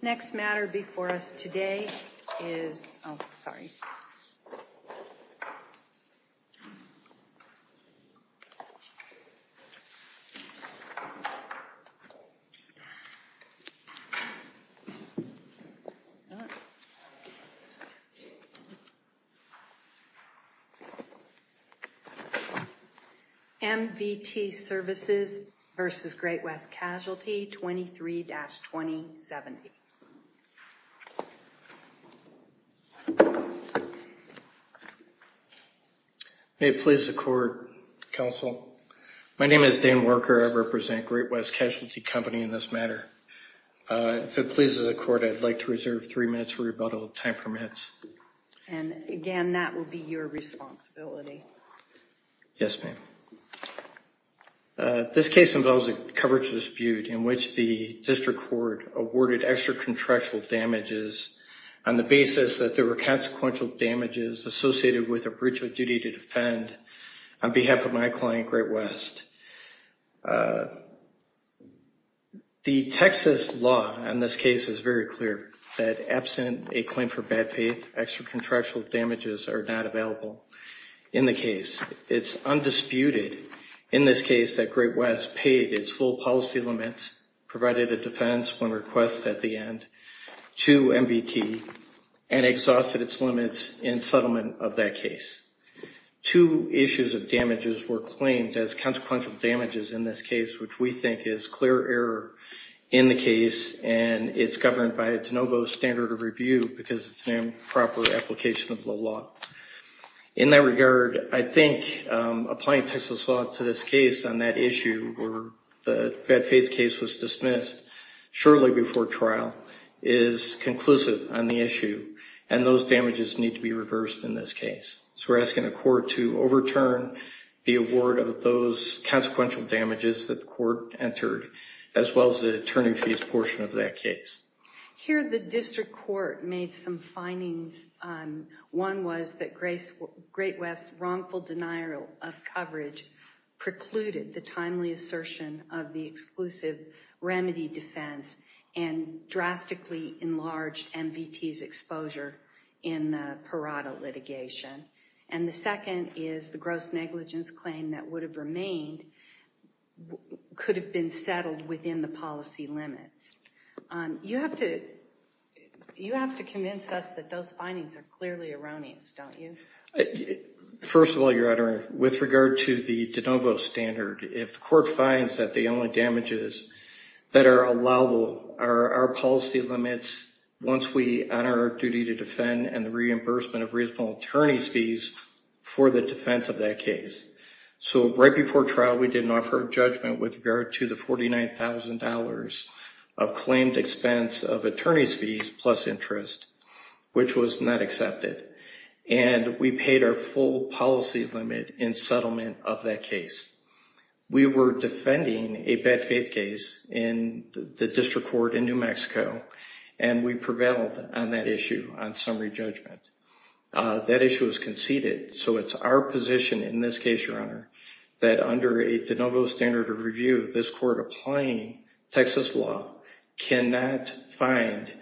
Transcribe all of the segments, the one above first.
Next matter before us today is MVT Services v. Great West Casualty Company 23-2070. May it please the court, counsel. My name is Dan Worker. I represent Great West Casualty Company in this matter. If it pleases the court, I'd like to reserve three minutes for rebuttal, time permits. And again, that will be your responsibility. Yes, ma'am. This case involves a coverage dispute in which the district court awarded extra contractual damages on the basis that there were consequential damages associated with a breach of duty to defend on behalf of my client, Great West. The Texas law in this case is very clear that absent a claim for bad faith, extra contractual damages are not available in the case. It's undisputed in this case that Great West paid its full policy limits, provided a defense when requested at the end to MVT, and exhausted its limits in settlement of that case. Two issues of damages were claimed as consequential damages in this case, which we think is clear error in the case, and it's governed by a de novo standard of review because it's an improper application of the law. In that regard, I think applying Texas law to this case on that issue where the bad faith case was dismissed shortly before trial is conclusive on the issue, and those damages need to be reversed in this case. So we're asking the court to overturn the award of those consequential damages that the court entered, as well as the attorney fees portion of that case. Here the district court made some findings. One was that Great West's wrongful denial of coverage precluded the timely assertion of the exclusive remedy defense, and drastically enlarged MVT's exposure in the Parada litigation. And the second is the gross negligence claim that would have remained could have been settled within the policy limits. You have to convince us that those findings are clearly erroneous, don't you? First of all, Your Honor, with regard to the de novo standard, if the court finds that the only damages that are allowable are our policy limits once we honor our duty to defend and the reimbursement of reasonable attorney's fees for the defense of that case. So right before trial, we didn't offer a judgment with regard to the $49,000 of claimed expense of attorney's fees plus interest, which was not accepted. And we paid our full policy limit in settlement of that case. We were defending a bad faith case in the district court in summary judgment. That issue was conceded. So it's our position in this case, Your Honor, that under a de novo standard of review, this court applying Texas law cannot find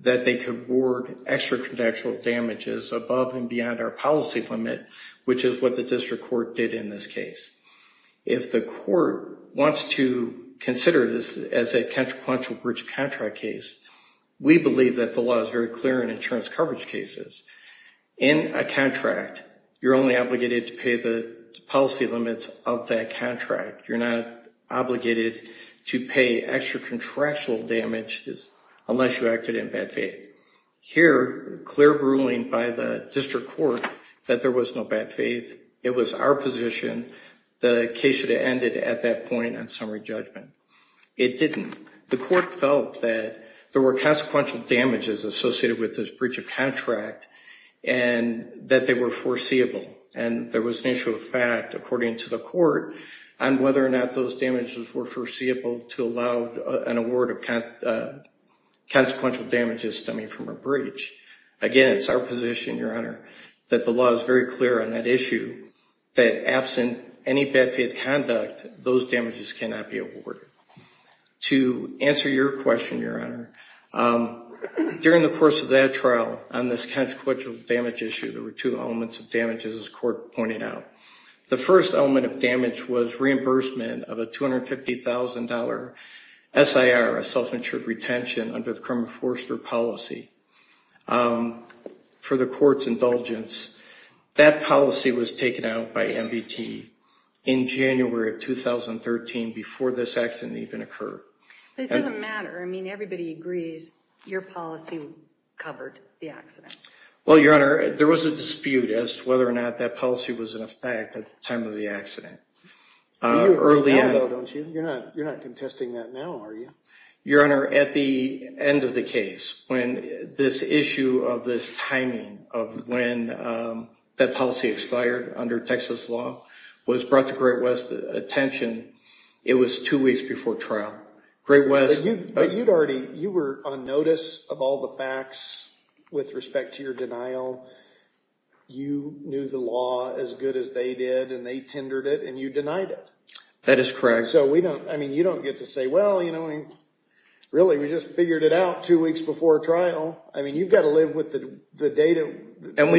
that they could award extrajudicial damages above and beyond our policy limit, which is what the district court did in this case. If the court wants to consider this as a consequential breach of contract case, we believe that the law is very clear in insurance coverage cases. In a contract, you're only obligated to pay the policy limits of that contract. You're not obligated to pay extra contractual damages unless you acted in bad faith. Here, clear ruling by the district court that there was no bad faith. It was our position. The case should have ended at that point in summary judgment. It didn't. The court felt that there were consequential damages associated with this breach of contract and that they were foreseeable. And there was an issue of fact, according to the court, on whether or not those damages were foreseeable to allow an award of consequential damages stemming from a breach. Again, it's our position, Your Honor, that the law is very clear on that issue, that absent any bad faith conduct, those damages cannot be awarded. To answer your question, Your Honor, during the course of that trial on this consequential damage issue, there were two elements of damages, as the court pointed out. The first element of damage was reimbursement of a $250,000 SIR, a self-insured retention under the Kramer-Foerster policy for the court's indulgence. That policy was taken out by NVT in January of 2013 before this accident even occurred. It doesn't matter. I mean, everybody agrees your policy covered the accident. Well, Your Honor, there was a dispute as to whether or not that policy was in effect at the time of the accident. You're not contesting that now, are you? Your Honor, when this issue of this timing of when that policy expired under Texas law was brought to Great West's attention, it was two weeks before trial. Great West... But you'd already... You were on notice of all the facts with respect to your denial. You knew the law as good as they did, and they tendered it, and you denied it. That is correct. So we don't... I mean, you don't get to say, well, you know, really, we just figured it out two weeks before trial. I mean, you've got to live with the data that you denied it.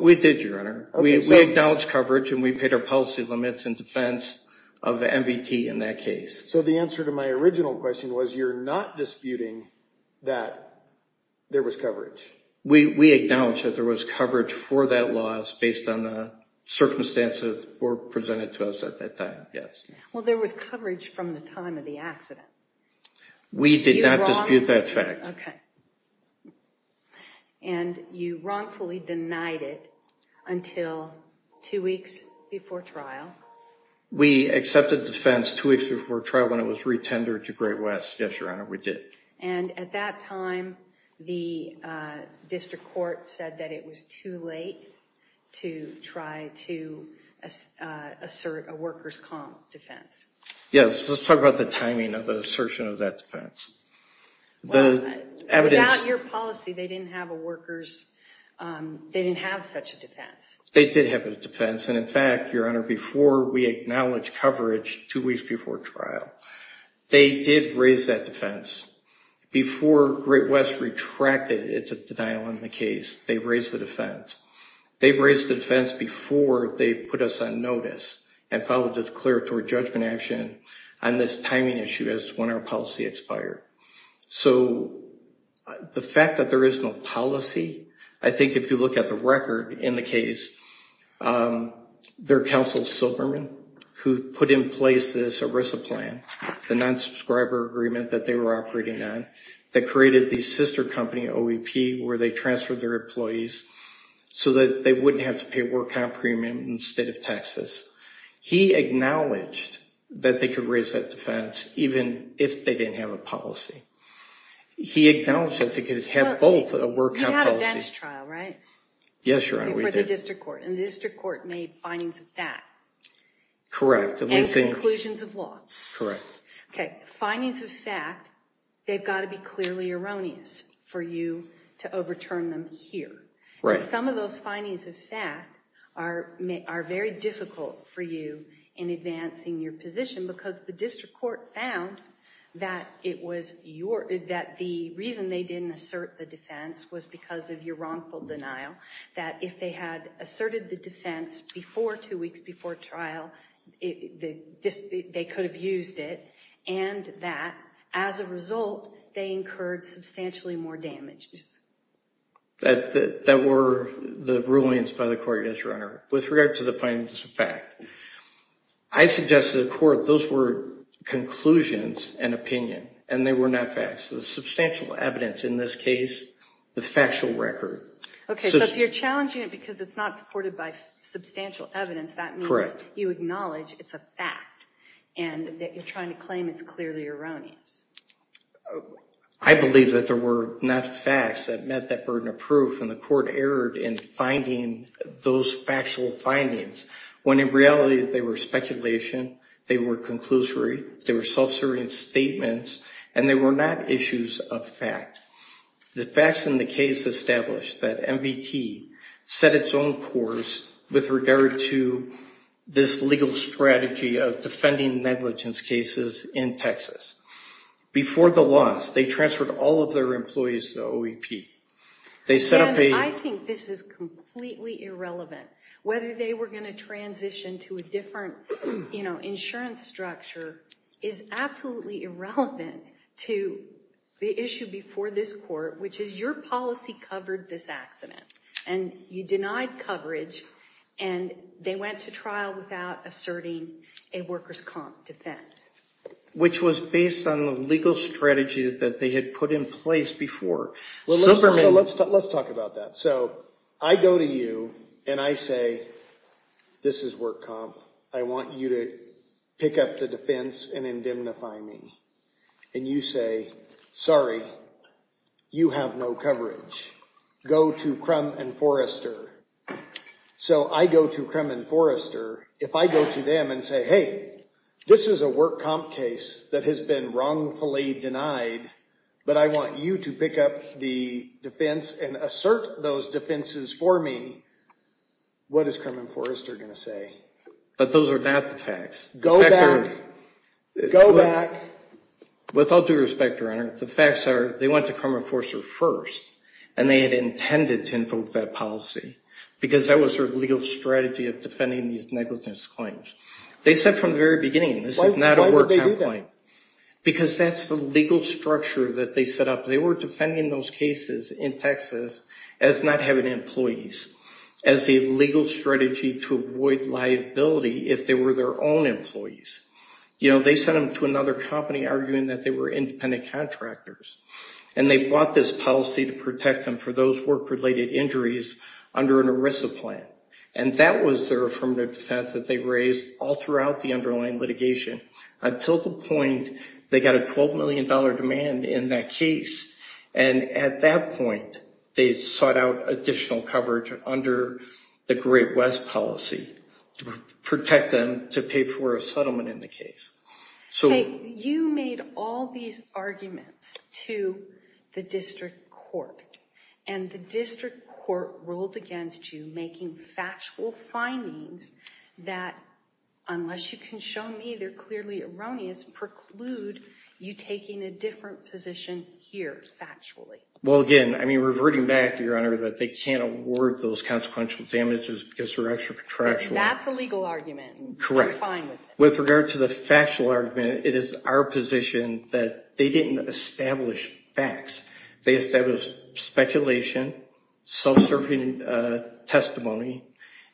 We did, Your Honor. We acknowledged coverage, and we paid our policy limits in defense of NVT in that case. So the answer to my original question was you're not disputing that there was coverage. We acknowledge that there was coverage for that loss based on the circumstances that were presented to us at that time, yes. Well, there was coverage from the time of the accident. We did not dispute that fact. Okay. And you wrongfully denied it until two weeks before trial. We accepted defense two weeks before trial when it was re-tendered to Great West. Yes, Your Honor, we did. And at that time, the district court said that it was too late to try to assert a workers' comp defense. Yes, let's talk about the timing of the assertion of that defense. The evidence... Without your policy, they didn't have a workers... They didn't have such a defense. They did have a defense. And in fact, Your Honor, before we acknowledged coverage two weeks before trial, they did raise that defense. Before Great West retracted its denial on the case, they raised the defense. They raised the defense before they put us on notice and filed a declaratory judgment action on this timing issue as to when our policy expired. So the fact that there is no policy, I think if you look at the record in the case, their counsel, Silverman, who put in place this ERISA plan, the non-subscriber agreement that they were operating on, that created the sister company, OEP, where they transferred their so that they wouldn't have to pay a work-out premium instead of taxes. He acknowledged that they could raise that defense even if they didn't have a policy. He acknowledged that they could have both a work-out policy. You had a dentist trial, right? Yes, Your Honor, we did. Before the district court. And the district court made findings of that. Correct. And conclusions of law. Correct. Okay, findings of fact, they've got to be clearly erroneous for you to overturn them here. Right. Some of those findings of fact are very difficult for you in advancing your position because the district court found that it was your, that the reason they didn't assert the defense was because of your wrongful denial, that if they had asserted the defense before two weeks before trial, they could have used it, and that as a result, they incurred substantially more damage. That were the rulings by the court, yes, Your Honor. With regard to the findings of fact, I suggest to the court those were conclusions and opinion, and they were not facts. The substantial evidence in this case, the factual record. Okay, so if you're challenging it because it's not supported by substantial evidence, that means you acknowledge it's a fact and that you're trying to claim it's clearly erroneous. I believe that there were not facts that met that burden of proof, and the court erred in finding those factual findings, when in reality they were speculation, they were conclusory, they were self-serving statements, and they were not issues of fact. The facts in the case establish that MVT set its own course with regard to this legal strategy of defending negligence cases in Texas. Before the loss, they transferred all of their employees to OEP. They set up a- And I think this is completely irrelevant, whether they were going to transition to a different insurance structure is absolutely irrelevant to the issue before this court, which is your policy covered this accident, and you denied coverage, and they went to a workers' comp defense. Which was based on the legal strategies that they had put in place before. So let's talk about that. So I go to you and I say, this is work comp, I want you to pick up the defense and indemnify me. And you say, sorry, you have no coverage. Go to Crum and Forrester. So I go to Crum and Forrester, if I go to them and say, hey, this is a work comp case that has been wrongfully denied, but I want you to pick up the defense and assert those defenses for me, what is Crum and Forrester going to say? But those are not the facts. Go back, go back. With all due respect, Your Honor, the facts are they went to Crum and Forrester first, and they had intended to invoke that policy, because that was their legal strategy of defending these negligence claims. They said from the very beginning, this is not a work comp claim. Because that's the legal structure that they set up. They were defending those cases in Texas as not having employees, as a legal strategy to avoid liability if they were their own employees. You know, they sent them to another company arguing that they were independent contractors. And they bought this policy to protect them for those work-related injuries under an ERISA plan. And that was their affirmative defense that they raised all throughout the underlying litigation. Until the point they got a $12 million demand in that case, and at that point, they sought out additional coverage under the Great West policy to protect them to pay for a settlement in the case. Hey, you made all these arguments to the district court, and the district court ruled against you making factual findings that, unless you can show me they're clearly erroneous, preclude you taking a different position here, factually. Well, again, I mean reverting back to Your Honor, that they can't award those consequential damages because they're extra contractual. That's a legal argument. Correct. You're fine with it. It's a factual argument. It is our position that they didn't establish facts. They established speculation, self-serving testimony,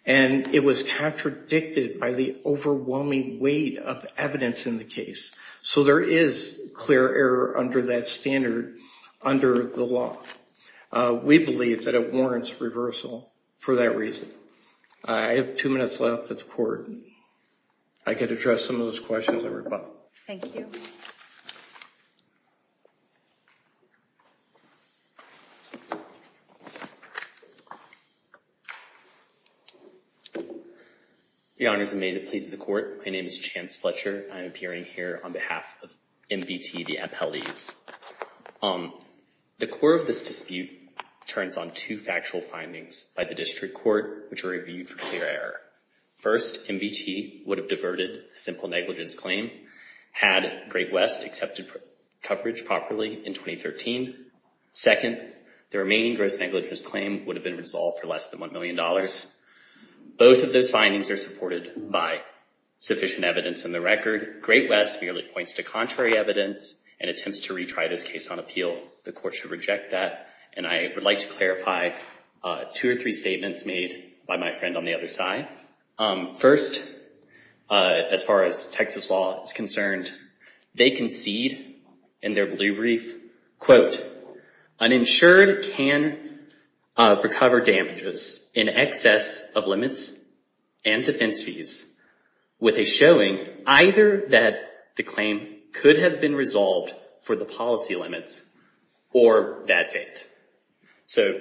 and it was contradicted by the overwhelming weight of evidence in the case. So there is clear error under that standard under the law. We believe that it warrants reversal for that reason. I have two minutes left at the court. I could address some of those questions at the rebuttal. Thank you. Your Honors, and may it please the Court, my name is Chance Fletcher. I am appearing here on behalf of MVT, the appellees. The core of this dispute turns on two factual findings by the district court, which are reviewed for clear error. First, MVT would have diverted a simple negligence claim had Great West accepted coverage properly in 2013. Second, the remaining gross negligence claim would have been resolved for less than $1 million. Both of those findings are supported by sufficient evidence in the record. Great West merely points to contrary evidence and attempts to retry this case on appeal. The court should reject that, and I would like to clarify two or three statements made by my friend on the other side. First, as far as Texas law is concerned, they concede in their blue brief, quote, uninsured can recover damages in excess of limits and defense fees with a showing either that the claim could have been resolved for the policy limits or bad faith. So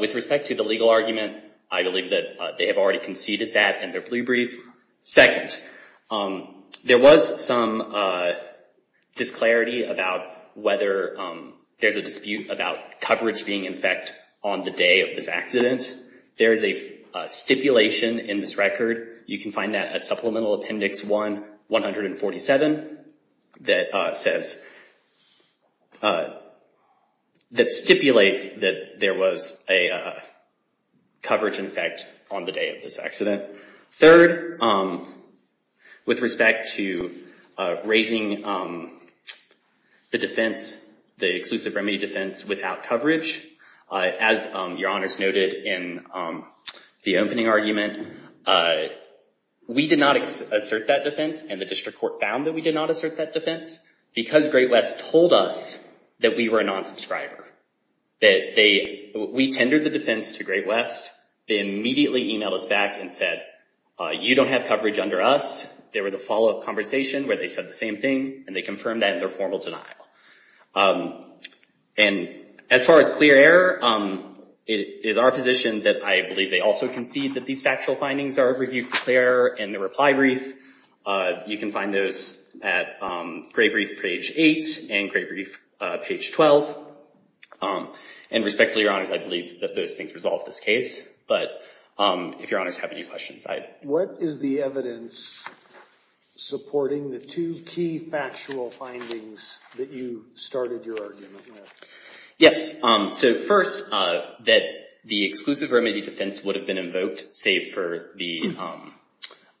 with respect to the legal argument, I believe that they have already conceded that in their blue brief. Second, there was some disclarity about whether there's a dispute about coverage being in effect on the day of this accident. There is a stipulation in this record. You can find that at Supplemental Appendix 1-147 that stipulates that there was a coverage in effect on the day of this accident. Third, with respect to raising the defense, the exclusive remedy defense without coverage, as Your Honors noted in the opening argument, we did not assert that defense, and the district court found that we did not assert that defense, because Great West told us that we were a non-subscriber. We tendered the defense to Great West. They immediately emailed us back and said, you don't have coverage under us. There was a follow-up conversation where they said the same thing, and they confirmed that in their formal denial. And as far as clear error, it is our position that I believe they also concede that these factual findings are reviewed for clear error in the reply brief. You can find those at Gray Brief, page 8, and Gray Brief, page 12. And respectfully, Your Honors, I believe that those things resolve this case. But if Your Honors have any questions, I'd— What is the evidence supporting the two key factual findings that you started your argument with? Yes. So first, that the exclusive remedy defense would have been invoked, save for the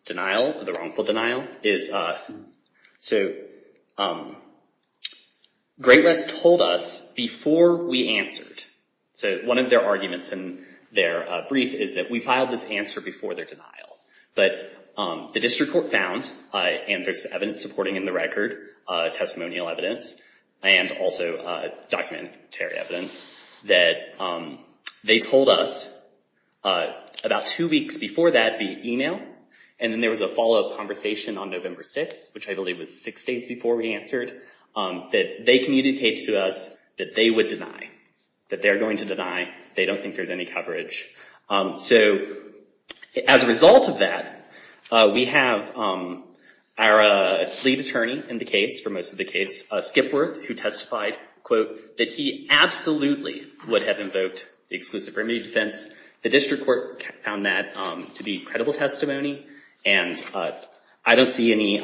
denial, the wrongful denial, is—so Great West told us before we answered—so one of their arguments in their brief is that we filed this answer before their denial. But the district court found, and there's evidence supporting in the record, testimonial evidence and also documentary evidence, that they told us about two weeks before that via email, and then there was a follow-up conversation on November 6, which I believe was six days before we answered, that they communicated to us that they would deny, that they're going to deny, they don't think there's any coverage. So as a result of that, we have our lead attorney in the case, for most of the case, Skipworth, who testified, quote, that he absolutely would have invoked the exclusive remedy defense. The district court found that to be credible testimony, and I don't see any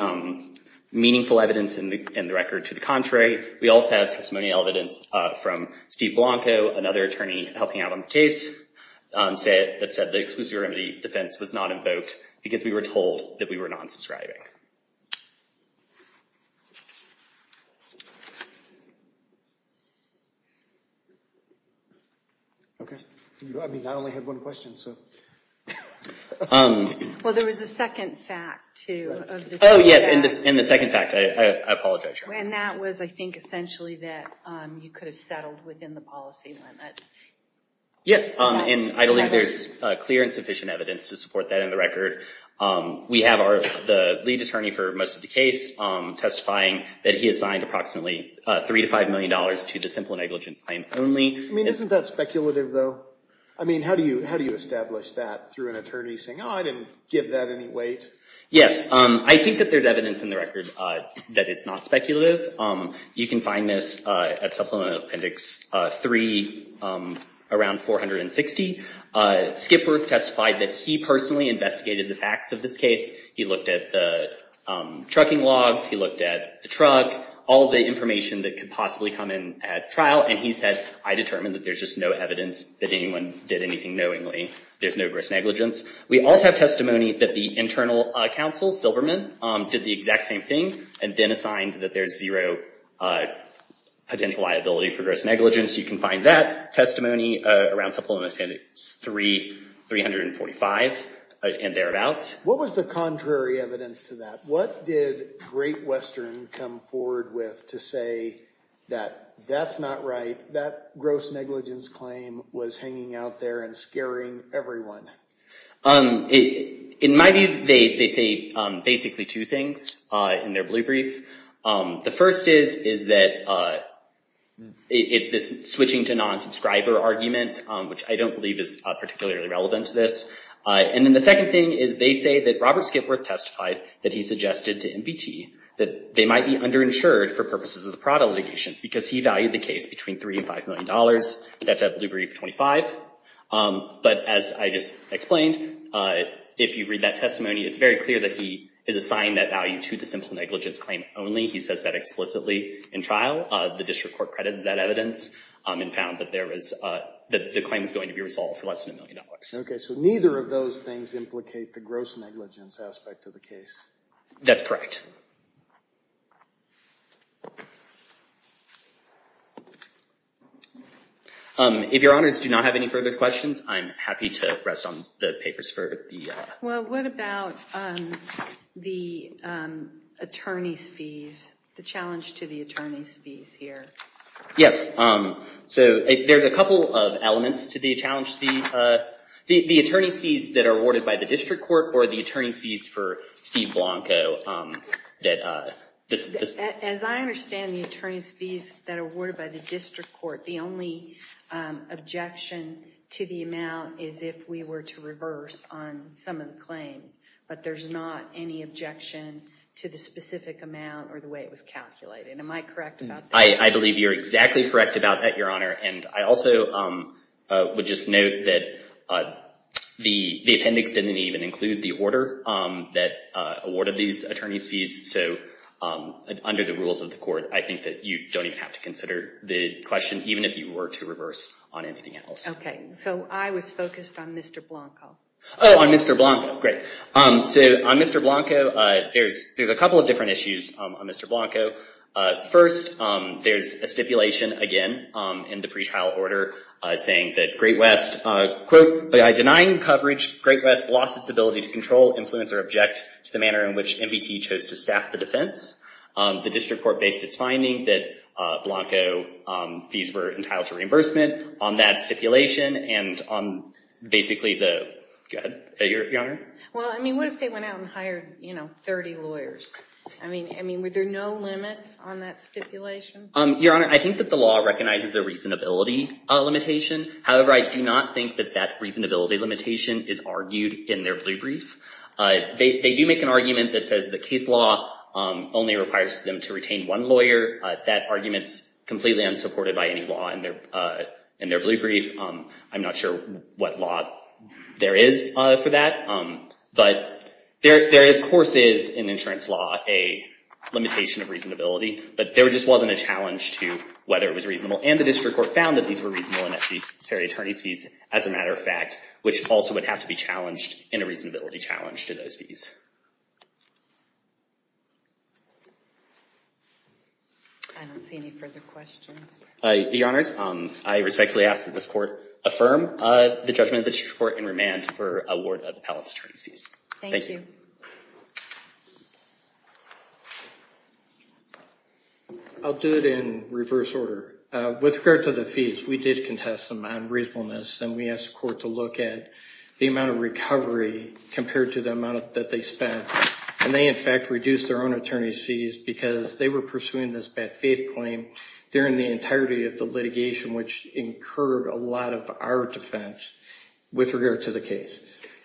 meaningful evidence in the record to the contrary. We also have testimonial evidence from Steve Blanco, another attorney helping out on the case, that said the exclusive remedy defense was not invoked because we were told that we were non-subscribing. Okay. I mean, I only had one question, so. Well, there was a second fact, too. Oh, yes. In the second fact, I apologize. And that was, I think, essentially that you could have settled within the policy limits. Yes, and I believe there's clear and sufficient evidence to support that in the record. We have the lead attorney for most of the case testifying that he assigned approximately $3 to $5 million to the simple negligence claim only. I mean, isn't that speculative, though? I mean, how do you establish that through an attorney saying, oh, I didn't give that any weight? Yes. I think that there's evidence in the record that it's not speculative. You can find this at Supplemental Appendix 3, around 460. Skipworth testified that he personally investigated the facts of this case. He looked at the trucking logs. He looked at the truck, all the information that could possibly come in at trial. And he said, I determined that there's just no evidence that anyone did anything knowingly. There's no gross negligence. We also have testimony that the internal counsel, Silverman, did the exact same thing and then assigned that there's zero potential liability for gross negligence. You can find that testimony around Supplemental Appendix 3, 345 and thereabouts. What was the contrary evidence to that? What did Great Western come forward with to say that that's not right, that gross negligence claim was hanging out there and scaring everyone? In my view, they say basically two things in their blue brief. The first is that it's this switching to non-subscriber argument, which I don't believe is particularly relevant to this. And then the second thing is they say that Robert Skipworth testified that he suggested to MBT that they might be underinsured for purposes of the Prada litigation because he said blue brief 25. But as I just explained, if you read that testimony, it's very clear that he has assigned that value to the simple negligence claim only. He says that explicitly in trial. The district court credited that evidence and found that the claim is going to be resolved for less than a million dollars. OK. So neither of those things implicate the gross negligence aspect of the case. That's correct. If your honors do not have any further questions, I'm happy to rest on the papers for the Well, what about the attorney's fees, the challenge to the attorney's fees here? Yes. So there's a couple of elements to the challenge. The attorney's fees that are awarded by the district court or the attorney's fees for Steve Blanco. As I understand the attorney's fees that are awarded by the district court, the only objection to the amount is if we were to reverse on some of the claims. But there's not any objection to the specific amount or the way it was calculated. Am I correct about that? I believe you're exactly correct about that, your honor. And I also would just note that the appendix didn't even include the order that awarded these attorney's fees. So under the rules of the court, I think that you don't even have to consider the question, even if you were to reverse on anything else. OK. So I was focused on Mr. Blanco. Oh, on Mr. Blanco. Great. Mr. Blanco. First, there's a stipulation, again, in the pretrial order saying that Great West, quote, by denying coverage, Great West lost its ability to control, influence, or object to the manner in which MBT chose to staff the defense. The district court based its finding that Blanco fees were entitled to reimbursement on that stipulation and on basically the, go ahead, your honor. Well, I mean, what if they went out and hired 30 lawyers? I mean, were there no limits on that stipulation? Your honor, I think that the law recognizes a reasonability limitation. However, I do not think that that reasonability limitation is argued in their blue brief. They do make an argument that says the case law only requires them to retain one lawyer. That argument's completely unsupported by any law in their blue brief. I'm not sure what law there is for that. But there, of course, is, in insurance law, a limitation of reasonability. But there just wasn't a challenge to whether it was reasonable. And the district court found that these were reasonable unnecessary attorney's fees, as a matter of fact, which also would have to be challenged in a reasonability challenge to those fees. I don't see any further questions. Your honors, I respectfully ask that this court affirm the judgment of the district court in remand for award of appellate attorney's fees. Thank you. I'll do it in reverse order. With regard to the fees, we did contest them on reasonableness. And we asked the court to look at the amount of recovery compared to the amount that they spent. And they, in fact, reduced their own attorney's fees because they were pursuing this bad faith claim during the entirety of the litigation, which incurred a lot of our defense with regard to the case.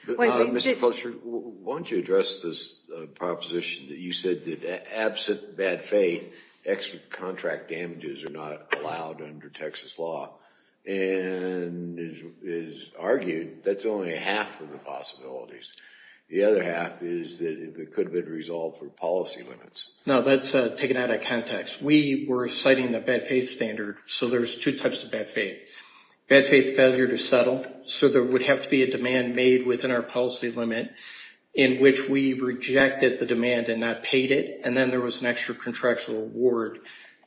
Mr. Fletcher, why don't you address this proposition that you said that absent bad faith, extra contract damages are not allowed under Texas law. And it is argued that's only half of the possibilities. The other half is that it could have been resolved for policy limits. No, that's taken out of context. We were citing the bad faith standard. So there's two types of bad faith. Bad faith failure to settle. So there would have to be a demand made within our policy limit in which we rejected the demand and not paid it. And then there was an extra contractual award.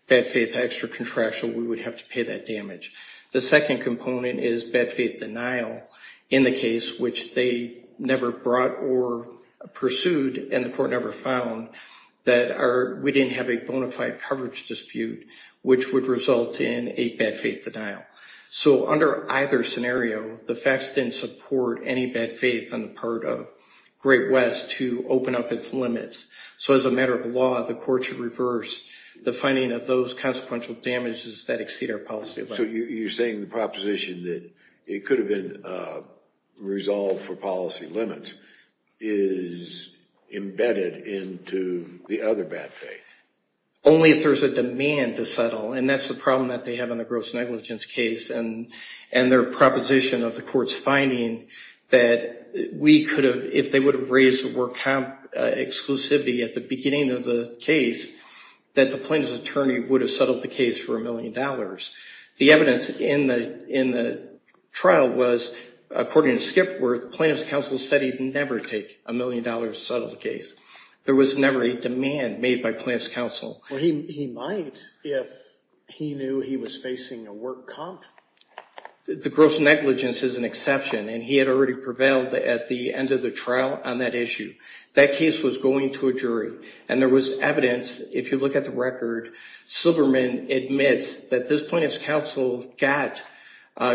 Bad faith, extra contractual, we would have to pay that damage. The second component is bad faith denial in the case, which they never brought or pursued. And the court never found that we didn't have a bona fide coverage dispute, which would result in a bad faith denial. So under either scenario, the facts didn't support any bad faith on the part of Great West to open up its limits. So as a matter of law, the court should reverse the finding of those consequential damages that exceed our policy limit. So you're saying the proposition that it could have been resolved for policy limits is embedded into the other bad faith? Only if there's a demand to settle. And that's the problem that they have in the gross negligence case and their proposition of the court's finding that we could have, if they would have raised the work comp exclusivity at the beginning of the case, that the plaintiff's attorney would have settled the case for a million dollars. The evidence in the trial was, according to Skipworth, plaintiff's counsel said he'd never take a million dollars to settle the case. There was never a demand made by plaintiff's counsel. Well, he might if he knew he was facing a work comp. The gross negligence is an exception, and he had already prevailed at the end of the trial on that issue. That case was going to a jury, and there was evidence, if you look at the record, Silverman admits that this plaintiff's counsel got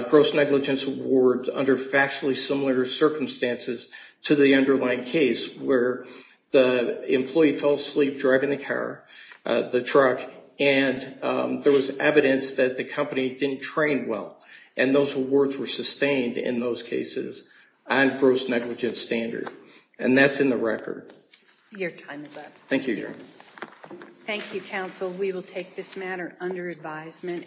gross negligence award under factually similar circumstances to the underlying case, where the employee fell asleep driving the car, the truck. And there was evidence that the company didn't train well. And those awards were sustained in those cases on gross negligence standard. And that's in the record. Your time is up. Thank you, Your Honor. Thank you, counsel. We will take this matter under advisement.